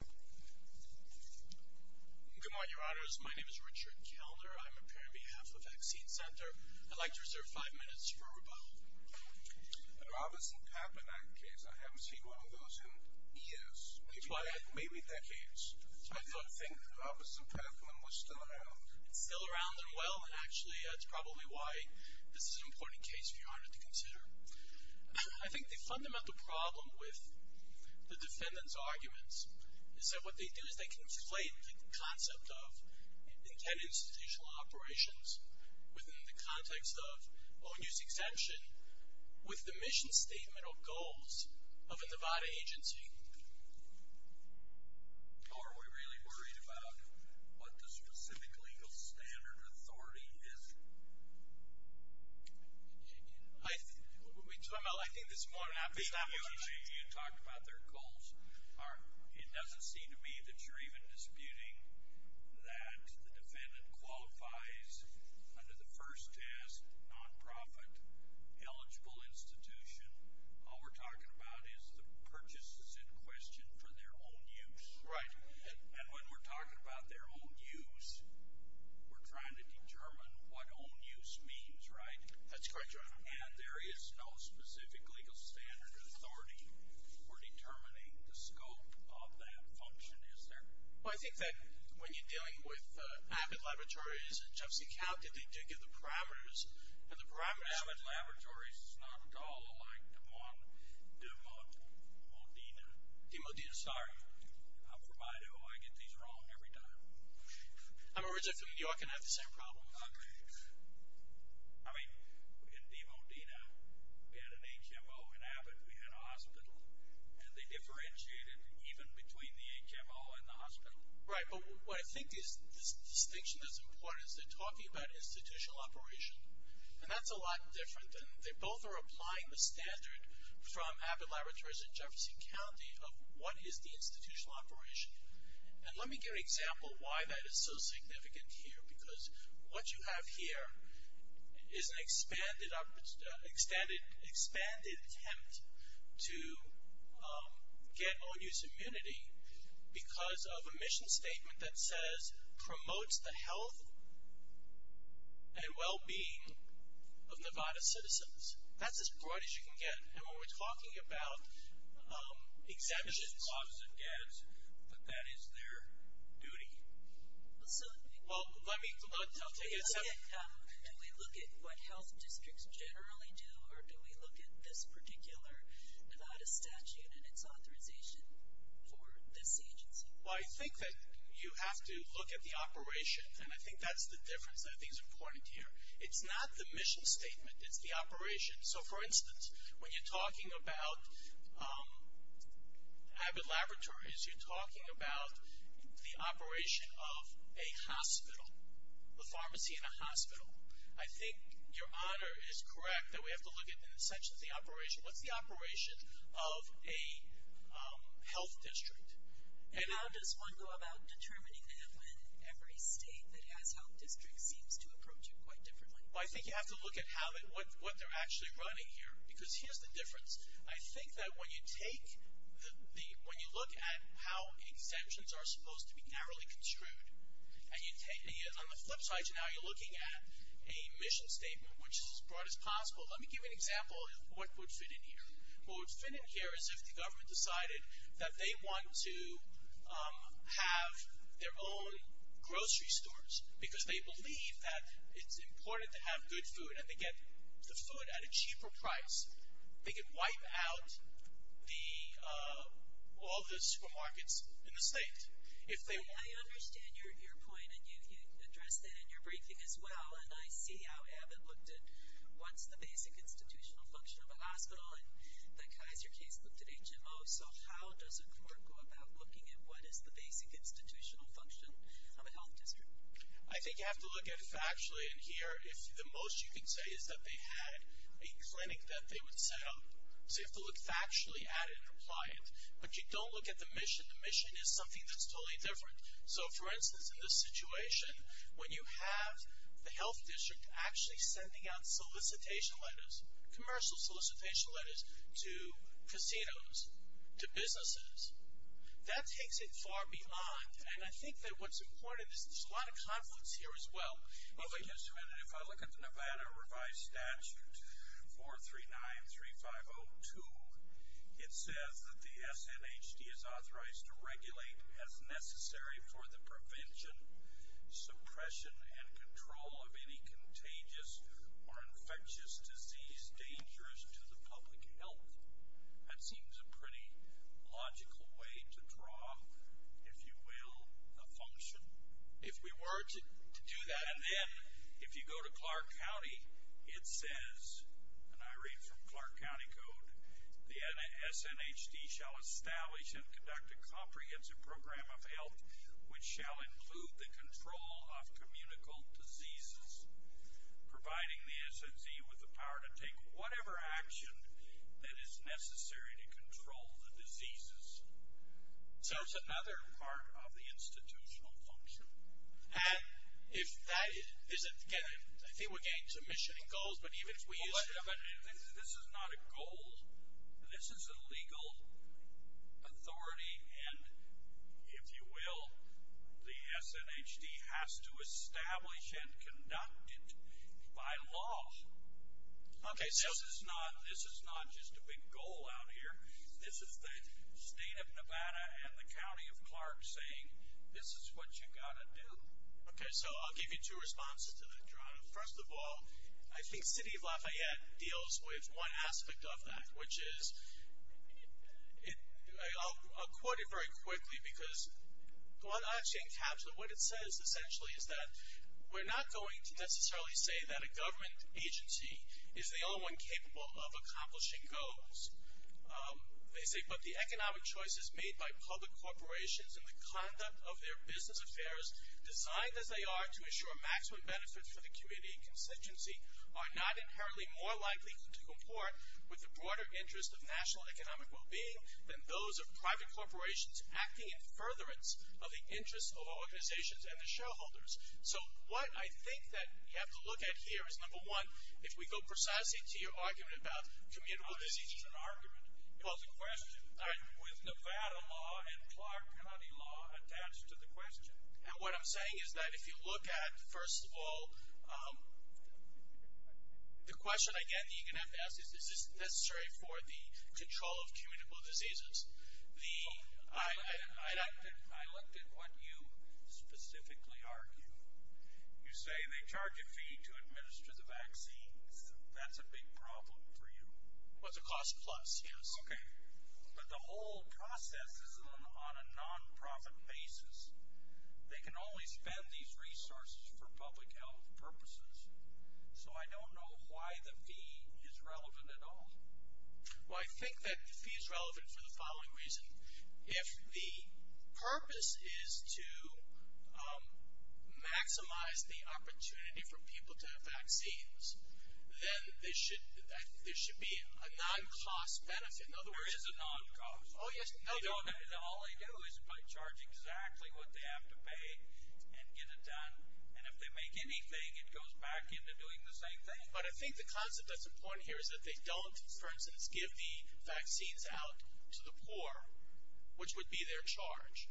Good morning, your honors. My name is Richard Kelner. I'm here on behalf of Vaccine Center. I'd like to reserve five minutes for rebuttal. Robertson-Kaplan case, I haven't seen one of those in years. Maybe decades. I don't think... Robertson-Kaplan was still around. Still around and well. And actually that's probably why this is an important case for your honor to consider. I think the fundamental problem with the defendant's arguments is that what they do is they conflate the concept of intended institutional operations within the context of own use exemption with the mission statement or goals of a Nevada agency. Are we really worried about what the specific legal standard or authority is? What are we talking about? I think this is more of an application. You talked about their goals. It doesn't seem to me that you're even disputing that the defendant qualifies under the first test, nonprofit, eligible institution. All we're talking about is the purchases in question for their own use. Right. And when we're talking about their own use, we're trying to determine what own use means, right? That's correct, your honor. And there is no specific legal standard or authority for determining the scope of that function, is there? Well, I think that when you're dealing with Abbott Laboratories, it just accounts that they do give the parameters, and the parameters... D. Modena. D. Modena, sorry. I'm from Idaho. I get these wrong every time. I'm originally from New York and I have the same problem. I mean, in D. Modena, we had an HMO in Abbott. We had a hospital, and they differentiated even between the HMO and the hospital. Right, but what I think this distinction is important is they're talking about institutional operation, and that's a lot different. And they both are applying the standard from Abbott Laboratories in Jefferson County of what is the institutional operation. And let me give an example why that is so significant here, because what you have here is an expanded attempt to get own use immunity because of a mission statement that says promotes the health and well-being of Nevada citizens. That's as broad as you can get. And when we're talking about exemptions... It's the cause of deaths, but that is their duty. Well, let me... Do we look at what health districts generally do, or do we look at this particular Nevada statute and its authorization for this agency? Well, I think that you have to look at the operation, and I think that's the difference that I think is important here. It's not the mission statement. It's the operation. So, for instance, when you're talking about Abbott Laboratories, you're talking about the operation of a hospital, the pharmacy in a hospital. I think your honor is correct that we have to look at the inception of the operation. What's the operation of a health district? And how does one go about determining that when every state that has health districts seems to approach it quite differently? Well, I think you have to look at what they're actually running here, because here's the difference. I think that when you look at how exemptions are supposed to be narrowly construed, on the flip side, now you're looking at a mission statement, which is as broad as possible. Let me give you an example of what would fit in here. What would fit in here is if the government decided that they want to have their own grocery stores, because they believe that it's important to have good food, and they get the food at a cheaper price. They could wipe out all the supermarkets in the state. I understand your point, and you addressed that in your briefing as well, and I see how Abbott looked at what's the basic institutional function of a hospital, and the Kaiser case looked at HMO, so how does a court go about looking at what is the basic institutional function of a health district? I think you have to look at it factually, and here the most you can say is that they had a clinic that they would set up. So you have to look factually at it and apply it. But you don't look at the mission. The mission is something that's totally different. So, for instance, in this situation, when you have the health district actually sending out solicitation letters, commercial solicitation letters, to casinos, to businesses, that takes it far beyond, and I think that what's important is there's a lot of confluence here as well. If I look at the Nevada Revised Statute 439-3502, it says that the SNHD is authorized to regulate as necessary for the prevention, suppression, and control of any contagious or infectious disease dangerous to the public health. That seems a pretty logical way to draw, if you will, a function. If we were to do that, and then if you go to Clark County, it says, and I read from Clark County Code, the SNHD shall establish and conduct a comprehensive program of health which shall include the control of communicable diseases, providing the SNZ with the power to take whatever action that is necessary to control the diseases. So it's another part of the institutional function. And if that is, again, I think we're getting to mission and goals, but even if we use. But this is not a goal. This is a legal authority, and if you will, the SNHD has to establish and conduct it by law. Okay, so. This is not just a big goal out here. This is the state of Nevada and the county of Clark saying, this is what you've got to do. Okay, so I'll give you two responses to that, Geronimo. First of all, I think City of Lafayette deals with one aspect of that, which is, I'll quote it very quickly because what it says essentially is that we're not going to necessarily say that a government agency is the only one capable of accomplishing goals. They say, but the economic choices made by public corporations and the conduct of their business affairs, designed as they are to ensure maximum benefits for the community and constituency, are not inherently more likely to comport with the broader interest of national economic well-being than those of private corporations acting in furtherance of the interests of organizations and the shareholders. So what I think that we have to look at here is, number one, if we go precisely to your argument about commutable diseases. No, this isn't an argument. Well, it's a question. All right. With Nevada law and Clark County law attached to the question. And what I'm saying is that if you look at, first of all, the question, again, that you're going to have to ask is, is this necessary for the control of commutable diseases? I looked at what you specifically argue. You say they charge a fee to administer the vaccines. That's a big problem for you. Well, it's a cost plus, yes. Okay. But the whole process is on a non-profit basis. They can only spend these resources for public health purposes. So I don't know why the fee is relevant at all. Well, I think that the fee is relevant for the following reason. If the purpose is to maximize the opportunity for people to have vaccines, then there should be a non-cost benefit. There is a non-cost. Oh, yes. All they do is charge exactly what they have to pay and get it done. And if they make anything, it goes back into doing the same thing. But I think the concept that's important here is that they don't, for instance, give the vaccines out to the poor, which would be their charge.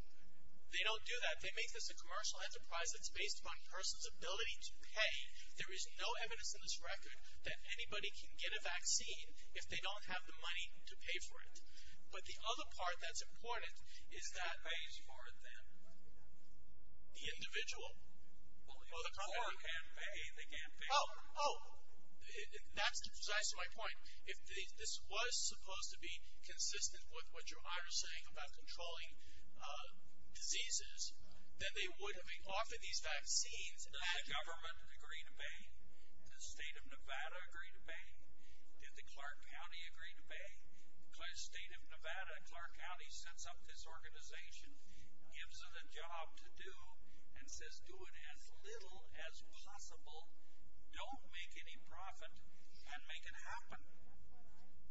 They don't do that. They make this a commercial enterprise that's based upon a person's ability to pay. There is no evidence in this record that anybody can get a vaccine if they don't have the money to pay for it. But the other part that's important is that… Pays for them. The individual. Well, the poor can pay. They can pay. Oh, that's precisely my point. If this was supposed to be consistent with what your honor is saying about controlling diseases, then they would have been offering these vaccines. Does the government agree to pay? Does the state of Nevada agree to pay? Did the Clark County agree to pay? Because the state of Nevada, Clark County, sets up this organization, gives it a job to do, and says do it as little as possible. Don't make any profit, and make it happen.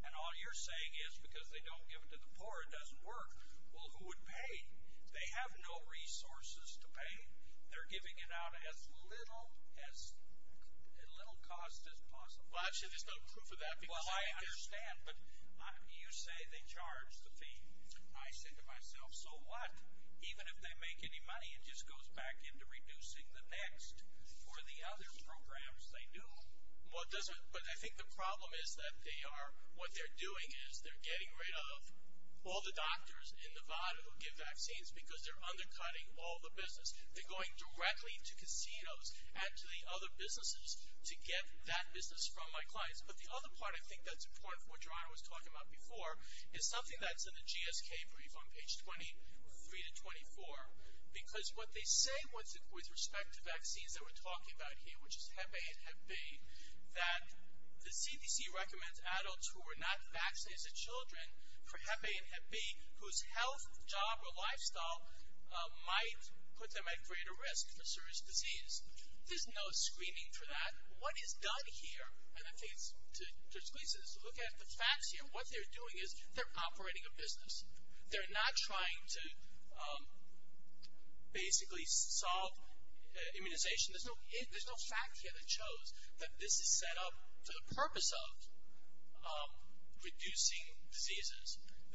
And all you're saying is because they don't give it to the poor it doesn't work. Well, who would pay? They have no resources to pay. They're giving it out at as little cost as possible. Well, actually, there's no proof of that. Well, I understand, but you say they charge the fee. I say to myself, so what? Even if they make any money, it just goes back into reducing the next or the other programs they do. But I think the problem is that what they're doing is they're getting rid of all the doctors in Nevada who give vaccines because they're undercutting all the business. They're going directly to casinos and to the other businesses to get that business from my clients. But the other part I think that's important for what your honor was talking about before is something that's in the GSK brief on page 23 to 24. Because what they say with respect to vaccines that we're talking about here, which is Hep A and Hep B, that the CDC recommends adults who are not vaccinated as children for Hep A and Hep B whose health, job, or lifestyle might put them at greater risk for serious disease. There's no screening for that. What is done here, and I think to squeeze this, look at the facts here. What they're doing is they're operating a business. They're not trying to basically solve immunization. There's no fact here that shows that this is set up for the purpose of reducing diseases.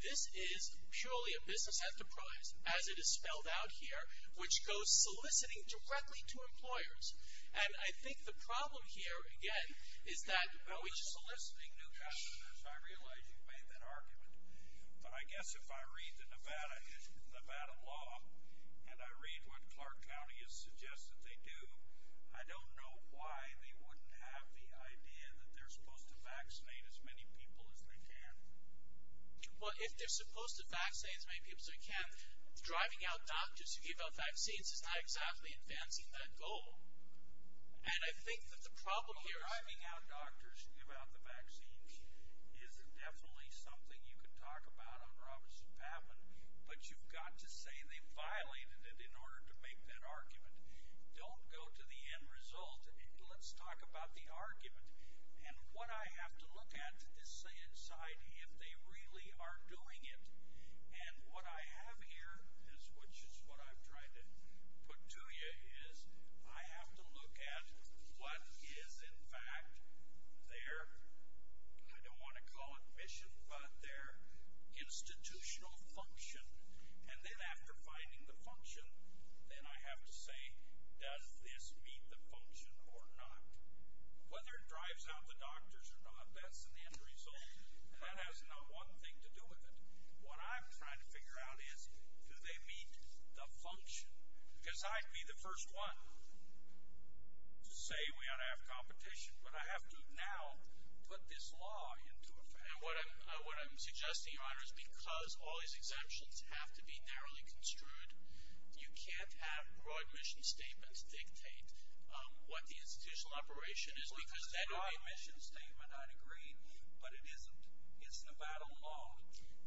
This is purely a business enterprise as it is spelled out here, which goes soliciting directly to employers. And I think the problem here, again, is that we're soliciting new customers. I realize you made that argument, but I guess if I read the Nevada law and I read what Clark County has suggested they do, I don't know why they wouldn't have the idea that they're supposed to vaccinate as many people as they can. Well, if they're supposed to vaccinate as many people as they can, driving out doctors to give out vaccines is not exactly advancing that goal. And I think that the problem here is- Well, driving out doctors to give out the vaccines is definitely something you can talk about on Robertson-Papman, but you've got to say they violated it in order to make that argument. Don't go to the end result. Let's talk about the argument. And what I have to look at to decide if they really are doing it, and what I have here, which is what I've tried to put to you, is I have to look at what is, in fact, their, I don't want to call it mission, but their institutional function. And then after finding the function, then I have to say, does this meet the function or not? Whether it drives out the doctors or not, that's an end result, and that has not one thing to do with it. What I'm trying to figure out is, do they meet the function? Because I'd be the first one to say we ought to have competition, but I have to now put this law into effect. And what I'm suggesting, Your Honor, is because all these exemptions have to be narrowly construed, you can't have broad mission statements dictate what the institutional operation is, because then it would be a mission statement, I'd agree, but it isn't. It's Nevada law,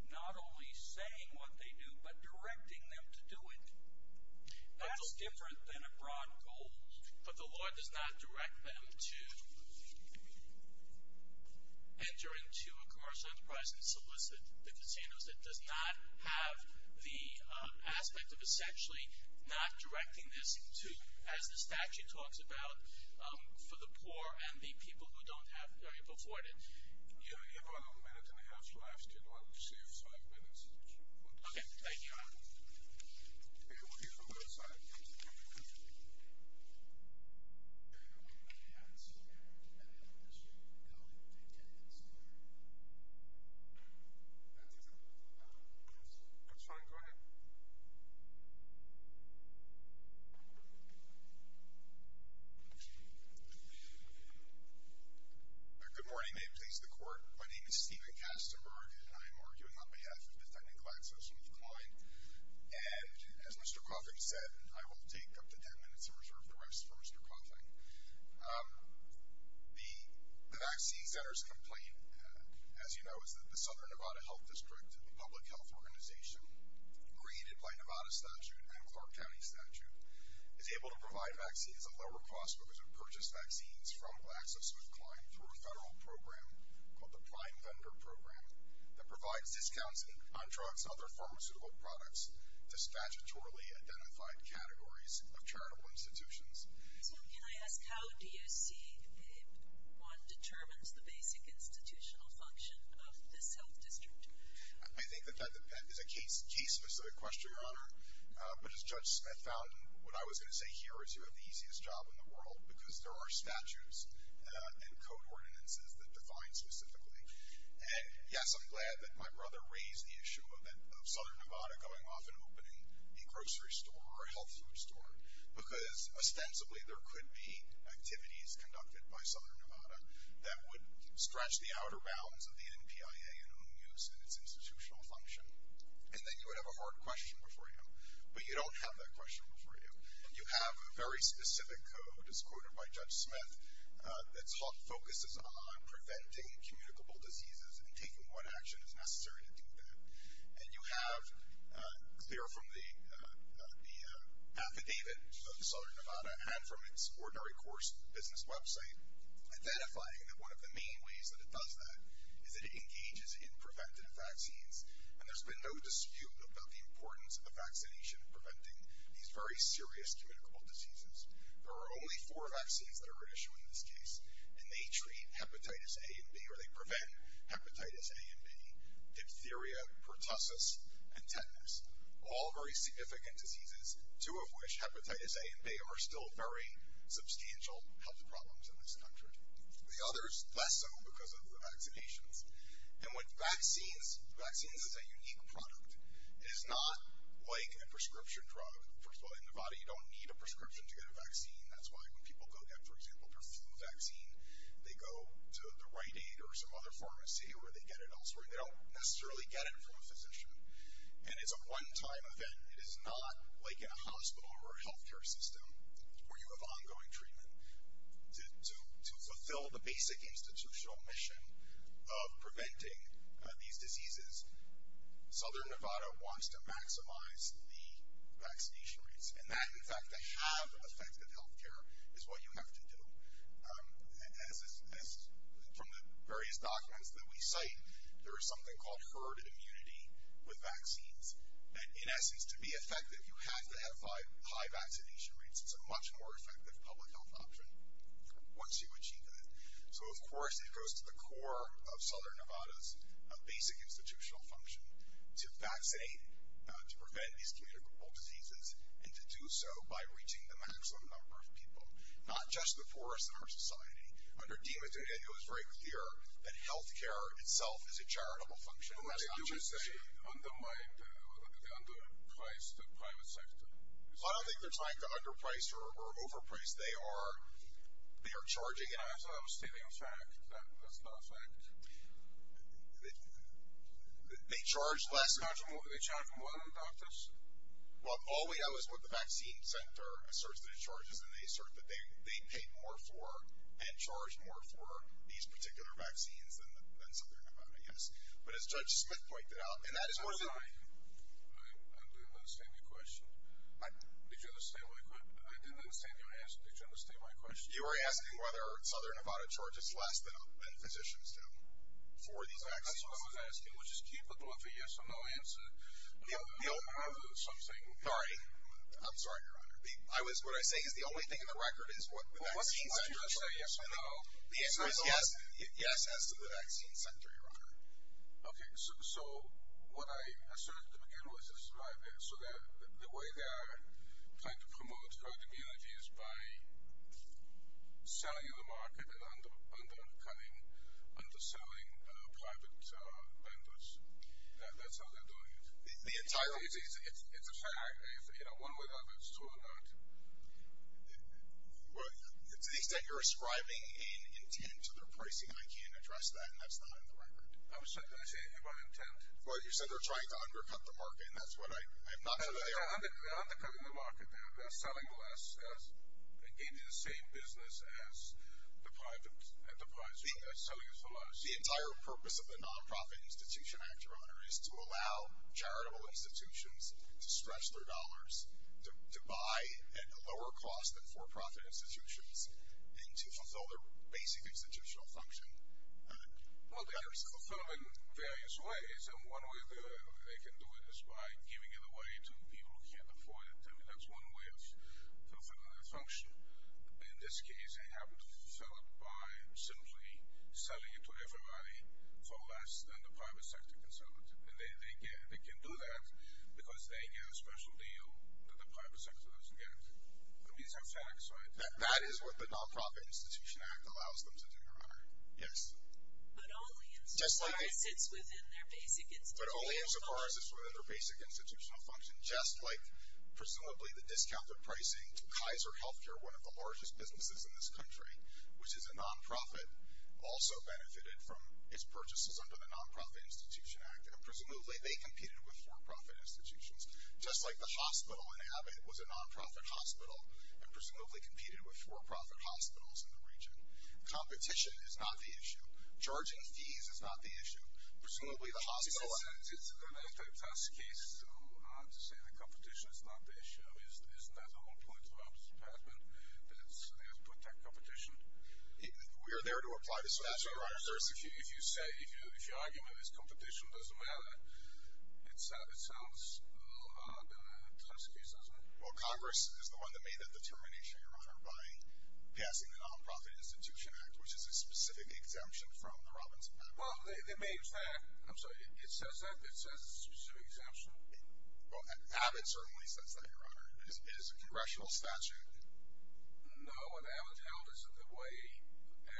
not only saying what they do, but directing them to do it. That's different than a broad goal. But the law does not direct them to enter into a commercial enterprise and solicit the casinos that does not have the aspect of essentially not directing this to, as the statute talks about, for the poor and the people who don't have very afforded. You have about a minute and a half left. You don't receive five minutes. Okay, thank you, Your Honor. Okay, we'll hear from both sides. That's fine, go ahead. Good morning, may it please the Court. My name is Stephen Kastenberg, and I am arguing on behalf of the Technical Access with Kline. And as Mr. Koffing said, I will take up to ten minutes and reserve the rest for Mr. Koffing. The Vaccine Center's complaint, as you know, is that the Southern Nevada Health District, a public health organization created by Nevada statute and Clark County statute, is able to provide vaccines at lower cost because it purchased vaccines from Access with Kline through a federal program called the Prime Vendor Program that provides discounts on drugs and other pharmaceutical products to statutorily identified categories of charitable institutions. So can I ask how do you see if one determines the basic institutional function of this health district? But as Judge Smith found, what I was going to say here is you have the easiest job in the world because there are statutes and code ordinances that define specifically. And yes, I'm glad that my brother raised the issue of Southern Nevada going off and opening a grocery store or a health food store because ostensibly there could be activities conducted by Southern Nevada that would scratch the outer bounds of the NPIA in its institutional function. And then you would have a hard question before you, but you don't have that question before you. And you have a very specific code, as quoted by Judge Smith, that focuses on preventing communicable diseases and taking what action is necessary to do that. And you have, clear from the affidavit of Southern Nevada and from its ordinary course business website, identifying that one of the main ways that it does that is it engages in preventative vaccines. And there's been no dispute about the importance of vaccination preventing these very serious communicable diseases. There are only four vaccines that are at issue in this case, and they treat hepatitis A and B, or they prevent hepatitis A and B, diphtheria, pertussis, and tetanus, all very significant diseases, two of which, hepatitis A and B, are still very substantial health problems in this country. The others, less so because of the vaccinations. And with vaccines, vaccines is a unique product. It is not like a prescription drug. First of all, in Nevada, you don't need a prescription to get a vaccine. That's why when people go get, for example, their flu vaccine, they go to the Rite Aid or some other pharmacy where they get it elsewhere, and they don't necessarily get it from a physician. And it's a one-time event. It is not like in a hospital or a healthcare system where you have ongoing treatment. To fulfill the basic institutional mission of preventing these diseases, Southern Nevada wants to maximize the vaccination rates. And that, in fact, to have effective healthcare is what you have to do. As from the various documents that we cite, there is something called herd immunity with vaccines. And in essence, to be effective, you have to have high vaccination rates. It's a much more effective public health option once you achieve that. So, of course, it goes to the core of Southern Nevada's basic institutional function to vaccinate, to prevent these communicable diseases, and to do so by reaching the maximum number of people, not just the poorest in our society. Under DiMatteo, it was very clear that healthcare itself is a charitable function. You would say they underpriced the private sector. I don't think they're trying to underpriced or overpriced. They are charging. I thought I was stating a fact. That's not a fact. They charge less. They charge more than doctors? Well, all we know is what the vaccine center asserts that it charges, and they assert that they pay more for and charge more for these particular vaccines than Southern Nevada, yes. But as Judge Smith pointed out, and that is one of the. I didn't understand your question. Did you understand my question? I didn't understand your answer. Did you understand my question? You were asking whether Southern Nevada charges less than physicians do for these vaccines. That's what I was asking, which is capable of a yes or no answer. We don't have something. Sorry. I'm sorry, Your Honor. What I say is the only thing in the record is what the vaccine centers. Well, what did you say, yes or no? The answer is yes. Yes as to the vaccine center, Your Honor. Okay. So what I asserted at the beginning was this is private. So the way they're trying to promote herd immunity is by selling the market and undercutting, underselling private vendors. That's how they're doing it. The entire. It's a fact. One way or the other, it's true or not. Well, to the extent you're ascribing an intent to their pricing, I can't address that, and that's not in the record. I was trying to say my intent. Well, you said they're trying to undercut the market, and that's what I'm not sure they are. They're undercutting the market. They're selling less. They're engaging in the same business as the private enterprise. They're selling it for less. The entire purpose of the Nonprofit Institution Act, Your Honor, is to allow charitable institutions to stretch their dollars to buy at a lower cost than for-profit institutions and to fulfill their basic institutional function. Well, they can fulfill it in various ways, and one way they can do it is by giving it away to people who can't afford it. I mean, that's one way of fulfilling their function. In this case, they happen to fulfill it by simply selling it to everybody for less than the private sector can sell it. And they can do that because they get a special deal that the private sector doesn't get. That is what the Nonprofit Institution Act allows them to do, Your Honor. Yes. But only as far as it's within their basic institutional function. But only as far as it's within their basic institutional function, just like presumably the discounted pricing to Kaiser Healthcare, one of the largest businesses in this country, which is a nonprofit, also benefited from its purchases under the Nonprofit Institution Act. And presumably they competed with for-profit institutions, just like the hospital in Abbott was a nonprofit hospital and presumably competed with for-profit hospitals in the region. Competition is not the issue. Charging fees is not the issue. Presumably the hospital... It's a fantastic case to say that competition is not the issue. I mean, isn't that the whole point of the Ombuds Department, that they have to protect competition? We are there to apply the statute, Your Honor. If you say, if your argument is competition doesn't matter, it sounds a little odd to this case, doesn't it? Well, Congress is the one that made that determination, Your Honor, by passing the Nonprofit Institution Act, which is a specific exemption from the Robinson Act. Well, they made that. I'm sorry, it says that? It says it's a specific exemption? Well, Abbott certainly says that, Your Honor. It is a congressional statute. No, what Abbott held is that the way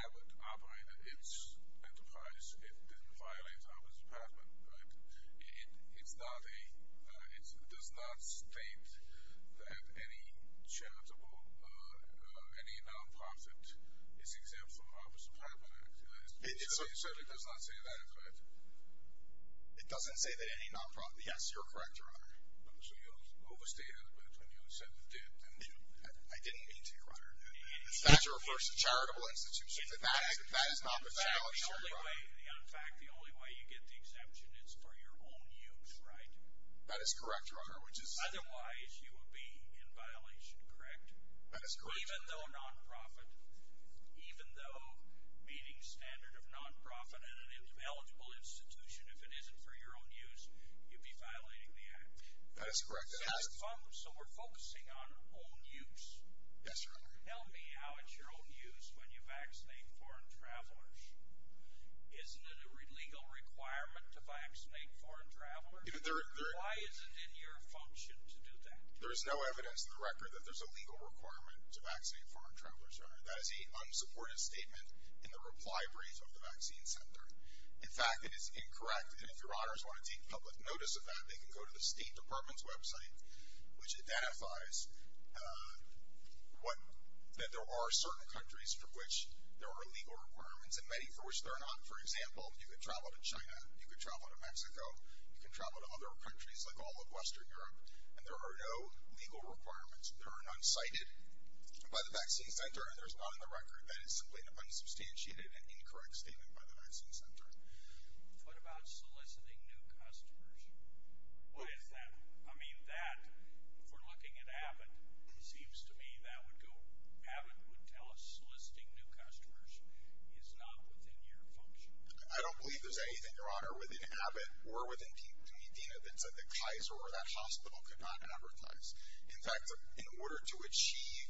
Abbott operated its enterprise, it didn't violate the Ombuds Department, right? It does not state that any charitable, any nonprofit is exempt from the Ombuds Department Act. It certainly does not say that, in fact. It doesn't say that any nonprofit? Yes, you're correct, Your Honor. So you overstated it when you said it did. I didn't mean to, Your Honor. The statute refers to charitable institutions. That is not the challenge here, Your Honor. In fact, the only way you get the exemption is for your own use, right? That is correct, Your Honor. Otherwise, you would be in violation, correct? That is correct, Your Honor. Even though nonprofit, even though meeting standard of nonprofit and an eligible institution, if it isn't for your own use, you'd be violating the act. That is correct. So we're focusing on own use. Yes, Your Honor. Tell me how it's your own use when you vaccinate foreign travelers. Isn't it a legal requirement to vaccinate foreign travelers? Why is it in your function to do that? There is no evidence in the record that there's a legal requirement to vaccinate foreign travelers, Your Honor. That is a unsupported statement in the reply brief of the vaccine center. In fact, it is incorrect. And if Your Honors want to take public notice of that, they can go to the State Department's website, which identifies that there are certain countries for which there are legal requirements and many for which there are not. For example, you could travel to China, you could travel to Mexico, you can travel to other countries like all of Western Europe, and there are no legal requirements. There are none cited by the vaccine center, and there's none in the record that is simply an unsubstantiated and incorrect statement by the vaccine center. What about soliciting new customers? What is that? I mean, that, if we're looking at Abbott, seems to me that would go, Abbott would tell us soliciting new customers is not within your function. I don't believe there's anything, Your Honor, within Abbott or within Dena that said that Kaiser or that hospital could not advertise. In fact, in order to achieve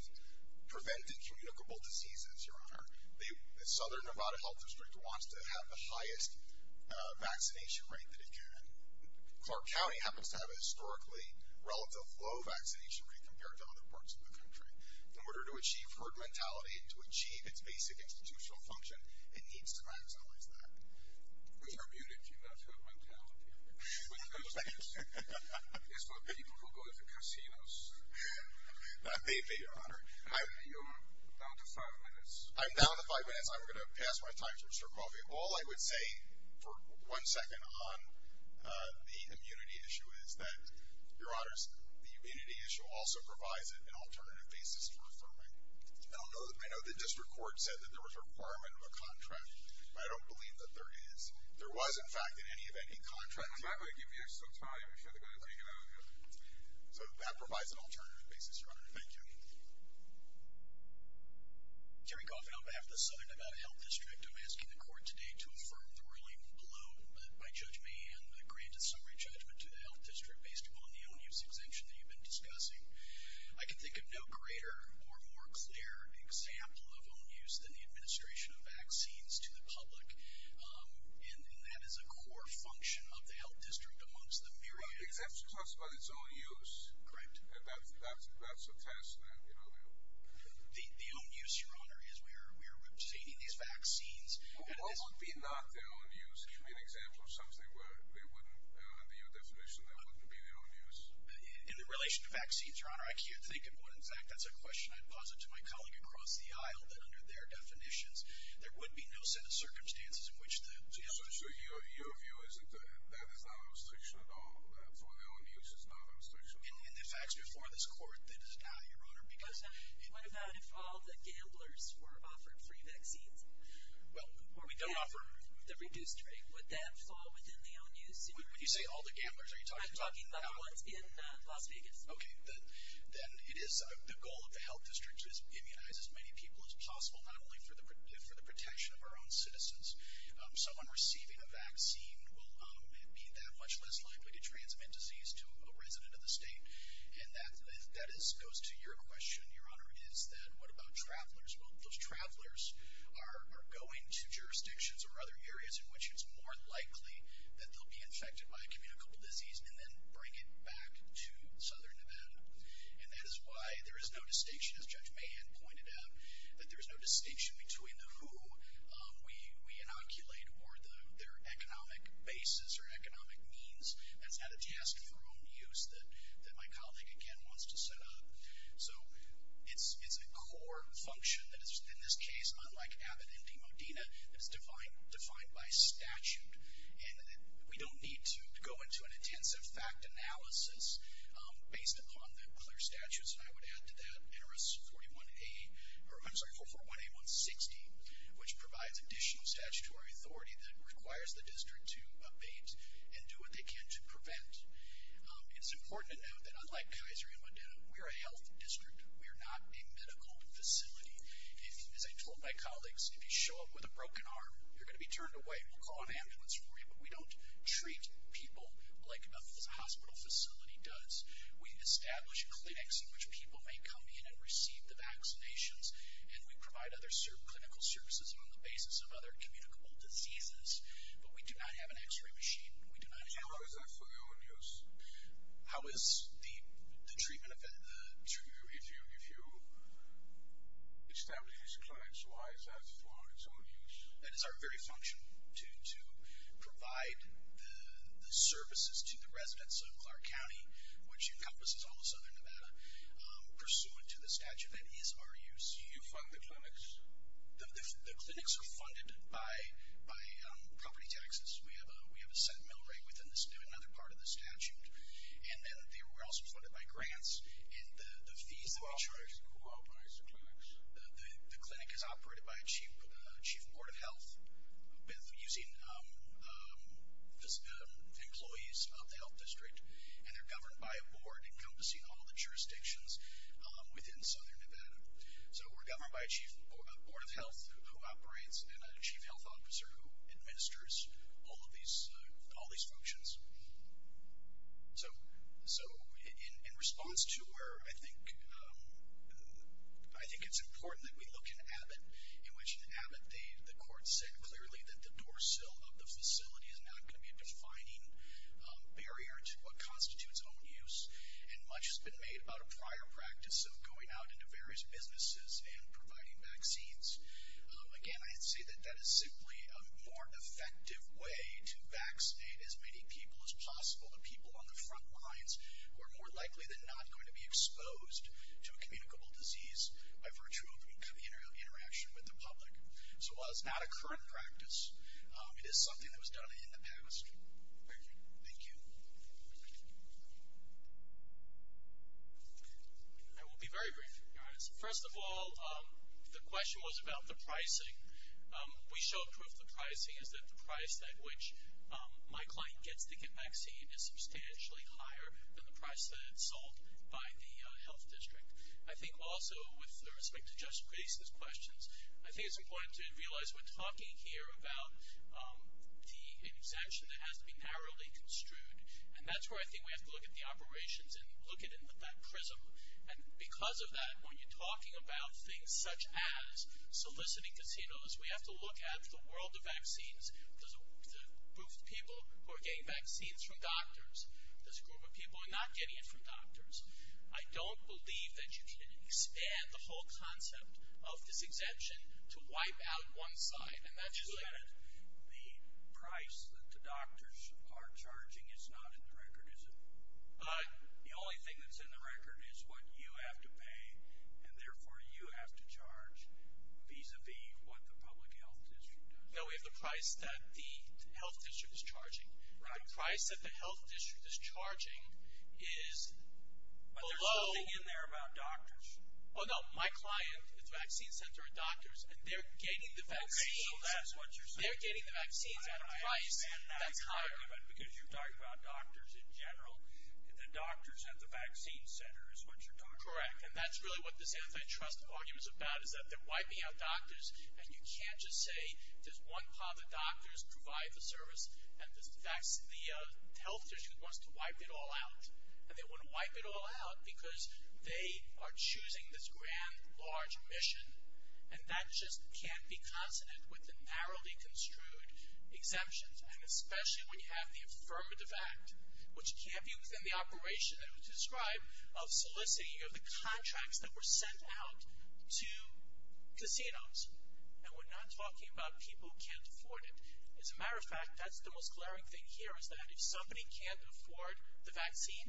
preventing communicable diseases, Your Honor, the Southern Nevada Health District wants to have the highest vaccination rate that it can. Clark County happens to have a historically relative low vaccination rate compared to other parts of the country. In order to achieve herd mentality and to achieve its basic institutional function, it needs to maximize that. With her muted, do you not have mentality? With those things. It's for people who go to the casinos. That may be, Your Honor. You're down to five minutes. I'm down to five minutes. I'm going to pass my time to Mr. Coffey. All I would say for one second on the immunity issue is that, Your Honors, the immunity issue also provides an alternative basis for affirming. I know the district court said that there was a requirement of a contract, but I don't believe that there is. There was, in fact, in any of any contracts. I'm not going to give you some time. You should be able to take it out. That provides an alternative basis, Your Honor. Thank you. Jerry Coffey on behalf of the Southern Nevada Health District. I'm asking the court today to affirm the ruling below by Judge May and grant a summary judgment to the health district based upon the own-use exemption that you've been discussing. I can think of no greater or more clear example of own-use than the administration of vaccines to the public, and that is a core function of the health district amongst the myriad. Exemption talks about its own use. Correct. That's a test. The own-use, Your Honor, is we're obtaining these vaccines. What would be not the own-use? Give me an example of something where they wouldn't, under your definition, they wouldn't be the own-use. In the relation to vaccines, Your Honor, I can't think of one. In fact, that's a question I'd posit to my colleague across the aisle that under their definitions there would be no set of circumstances in which the health district So your view is that that is not a restriction at all, that for the own-use is not a restriction at all? In the facts before this court, that is not, Your Honor, because What about if all the gamblers were offered free vaccines? Well, we don't offer The reduced rate, would that fall within the own-use? When you say all the gamblers, are you talking about I'm talking about the ones in Las Vegas. Okay. Then it is the goal of the health district is to immunize as many people as possible, not only for the protection of our own citizens. Someone receiving a vaccine will be that much less likely to transmit disease to a resident of the state. And that goes to your question, Your Honor, is that what about travelers? Well, those travelers are going to jurisdictions or other areas in which it's more likely that they'll be infected by a communicable disease and then bring it back to Southern Nevada. And that is why there is no distinction, as Judge Mahan pointed out, that there is no distinction between the who we inoculate or their economic basis or economic means. That's not a task for own-use that my colleague, again, wants to set up. So it's a core function that is, in this case, unlike Abbott and Demodena, that is defined by statute. And we don't need to go into an intensive fact analysis based upon the clear statutes. And I would add to that NRS 41A or, I'm sorry, 441A160, which provides additional statutory authority that requires the district to abate and do what they can to prevent. It's important to note that, unlike Kaiser and Modena, we are a health district. We are not a medical facility. As I told my colleagues, if you show up with a broken arm, you're going to be turned away. We'll call an ambulance for you. But we don't treat people like a hospital facility does. We establish clinics in which people may come in and receive the vaccinations, and we provide other clinical services on the basis of other communicable diseases. But we do not have an x-ray machine. How is that for your own use? How is the treatment of it? If you establish these clinics, why is that for its own use? That is our very function, to provide the services to the residents of Clark County, which encompasses all of southern Nevada, pursuant to the statute that is our use. Do you fund the clinics? The clinics are funded by property taxes. We have a set mill rate within another part of the statute. And then we're also funded by grants and the fees that we charge. Who operates the clinics? The clinic is operated by a chief in Board of Health, using employees of the health district, and they're governed by a board encompassing all the jurisdictions within southern Nevada. So we're governed by a board of health who operates and a chief health officer who administers all these functions. So in response to where I think it's important that we look in Abbott, in which in Abbott the court said clearly that the door sill of the facility is not going to be a defining barrier to what constitutes own use, and much has been made about a prior practice of going out into various businesses and providing vaccines. Again, I'd say that that is simply a more effective way to vaccinate as many people as possible, the people on the front lines, who are more likely than not going to be exposed to a communicable disease by virtue of the interaction with the public. So while it's not a current practice, it is something that was done in the past. Thank you. I will be very brief, to be honest. First of all, the question was about the pricing. We showed proof of the pricing, is that the price at which my client gets the vaccine is substantially higher than the price that it's sold by the health district. I think also, with respect to just previous questions, I think it's important to realize we're talking here about an exemption that has to be narrowly construed, and that's where I think we have to look at the operations and look at it in that prism. And because of that, when you're talking about things such as soliciting casinos, we have to look at the world of vaccines, the group of people who are getting vaccines from doctors, this group of people who are not getting it from doctors. I don't believe that you can expand the whole concept of this exemption to wipe out one side. The price that the doctors are charging is not in the record, is it? The only thing that's in the record is what you have to pay, and therefore you have to charge, vis-a-vis what the public health district does. No, we have the price that the health district is charging. The price that the health district is charging is below. But there's something in there about doctors. Oh, no, my client at the vaccine center are doctors, and they're getting the vaccines at a price that's higher. I understand that argument because you're talking about doctors in general, and the doctors at the vaccine center is what you're talking about. Correct, and that's really what this antitrust argument is about, is that they're wiping out doctors, and you can't just say there's one part of the doctors who provide the service, and the health district wants to wipe it all out. And they want to wipe it all out because they are choosing this grand, large mission, and that just can't be consonant with the narrowly construed exemptions, and especially when you have the affirmative act, which can't be within the operation that was described of soliciting of the contracts that were sent out to casinos. And we're not talking about people who can't afford it. As a matter of fact, that's the most glaring thing here, is that if somebody can't afford the vaccine,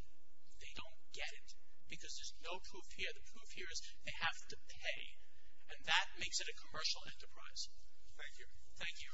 they don't get it, because there's no proof here. The proof here is they have to pay, and that makes it a commercial enterprise. Thank you.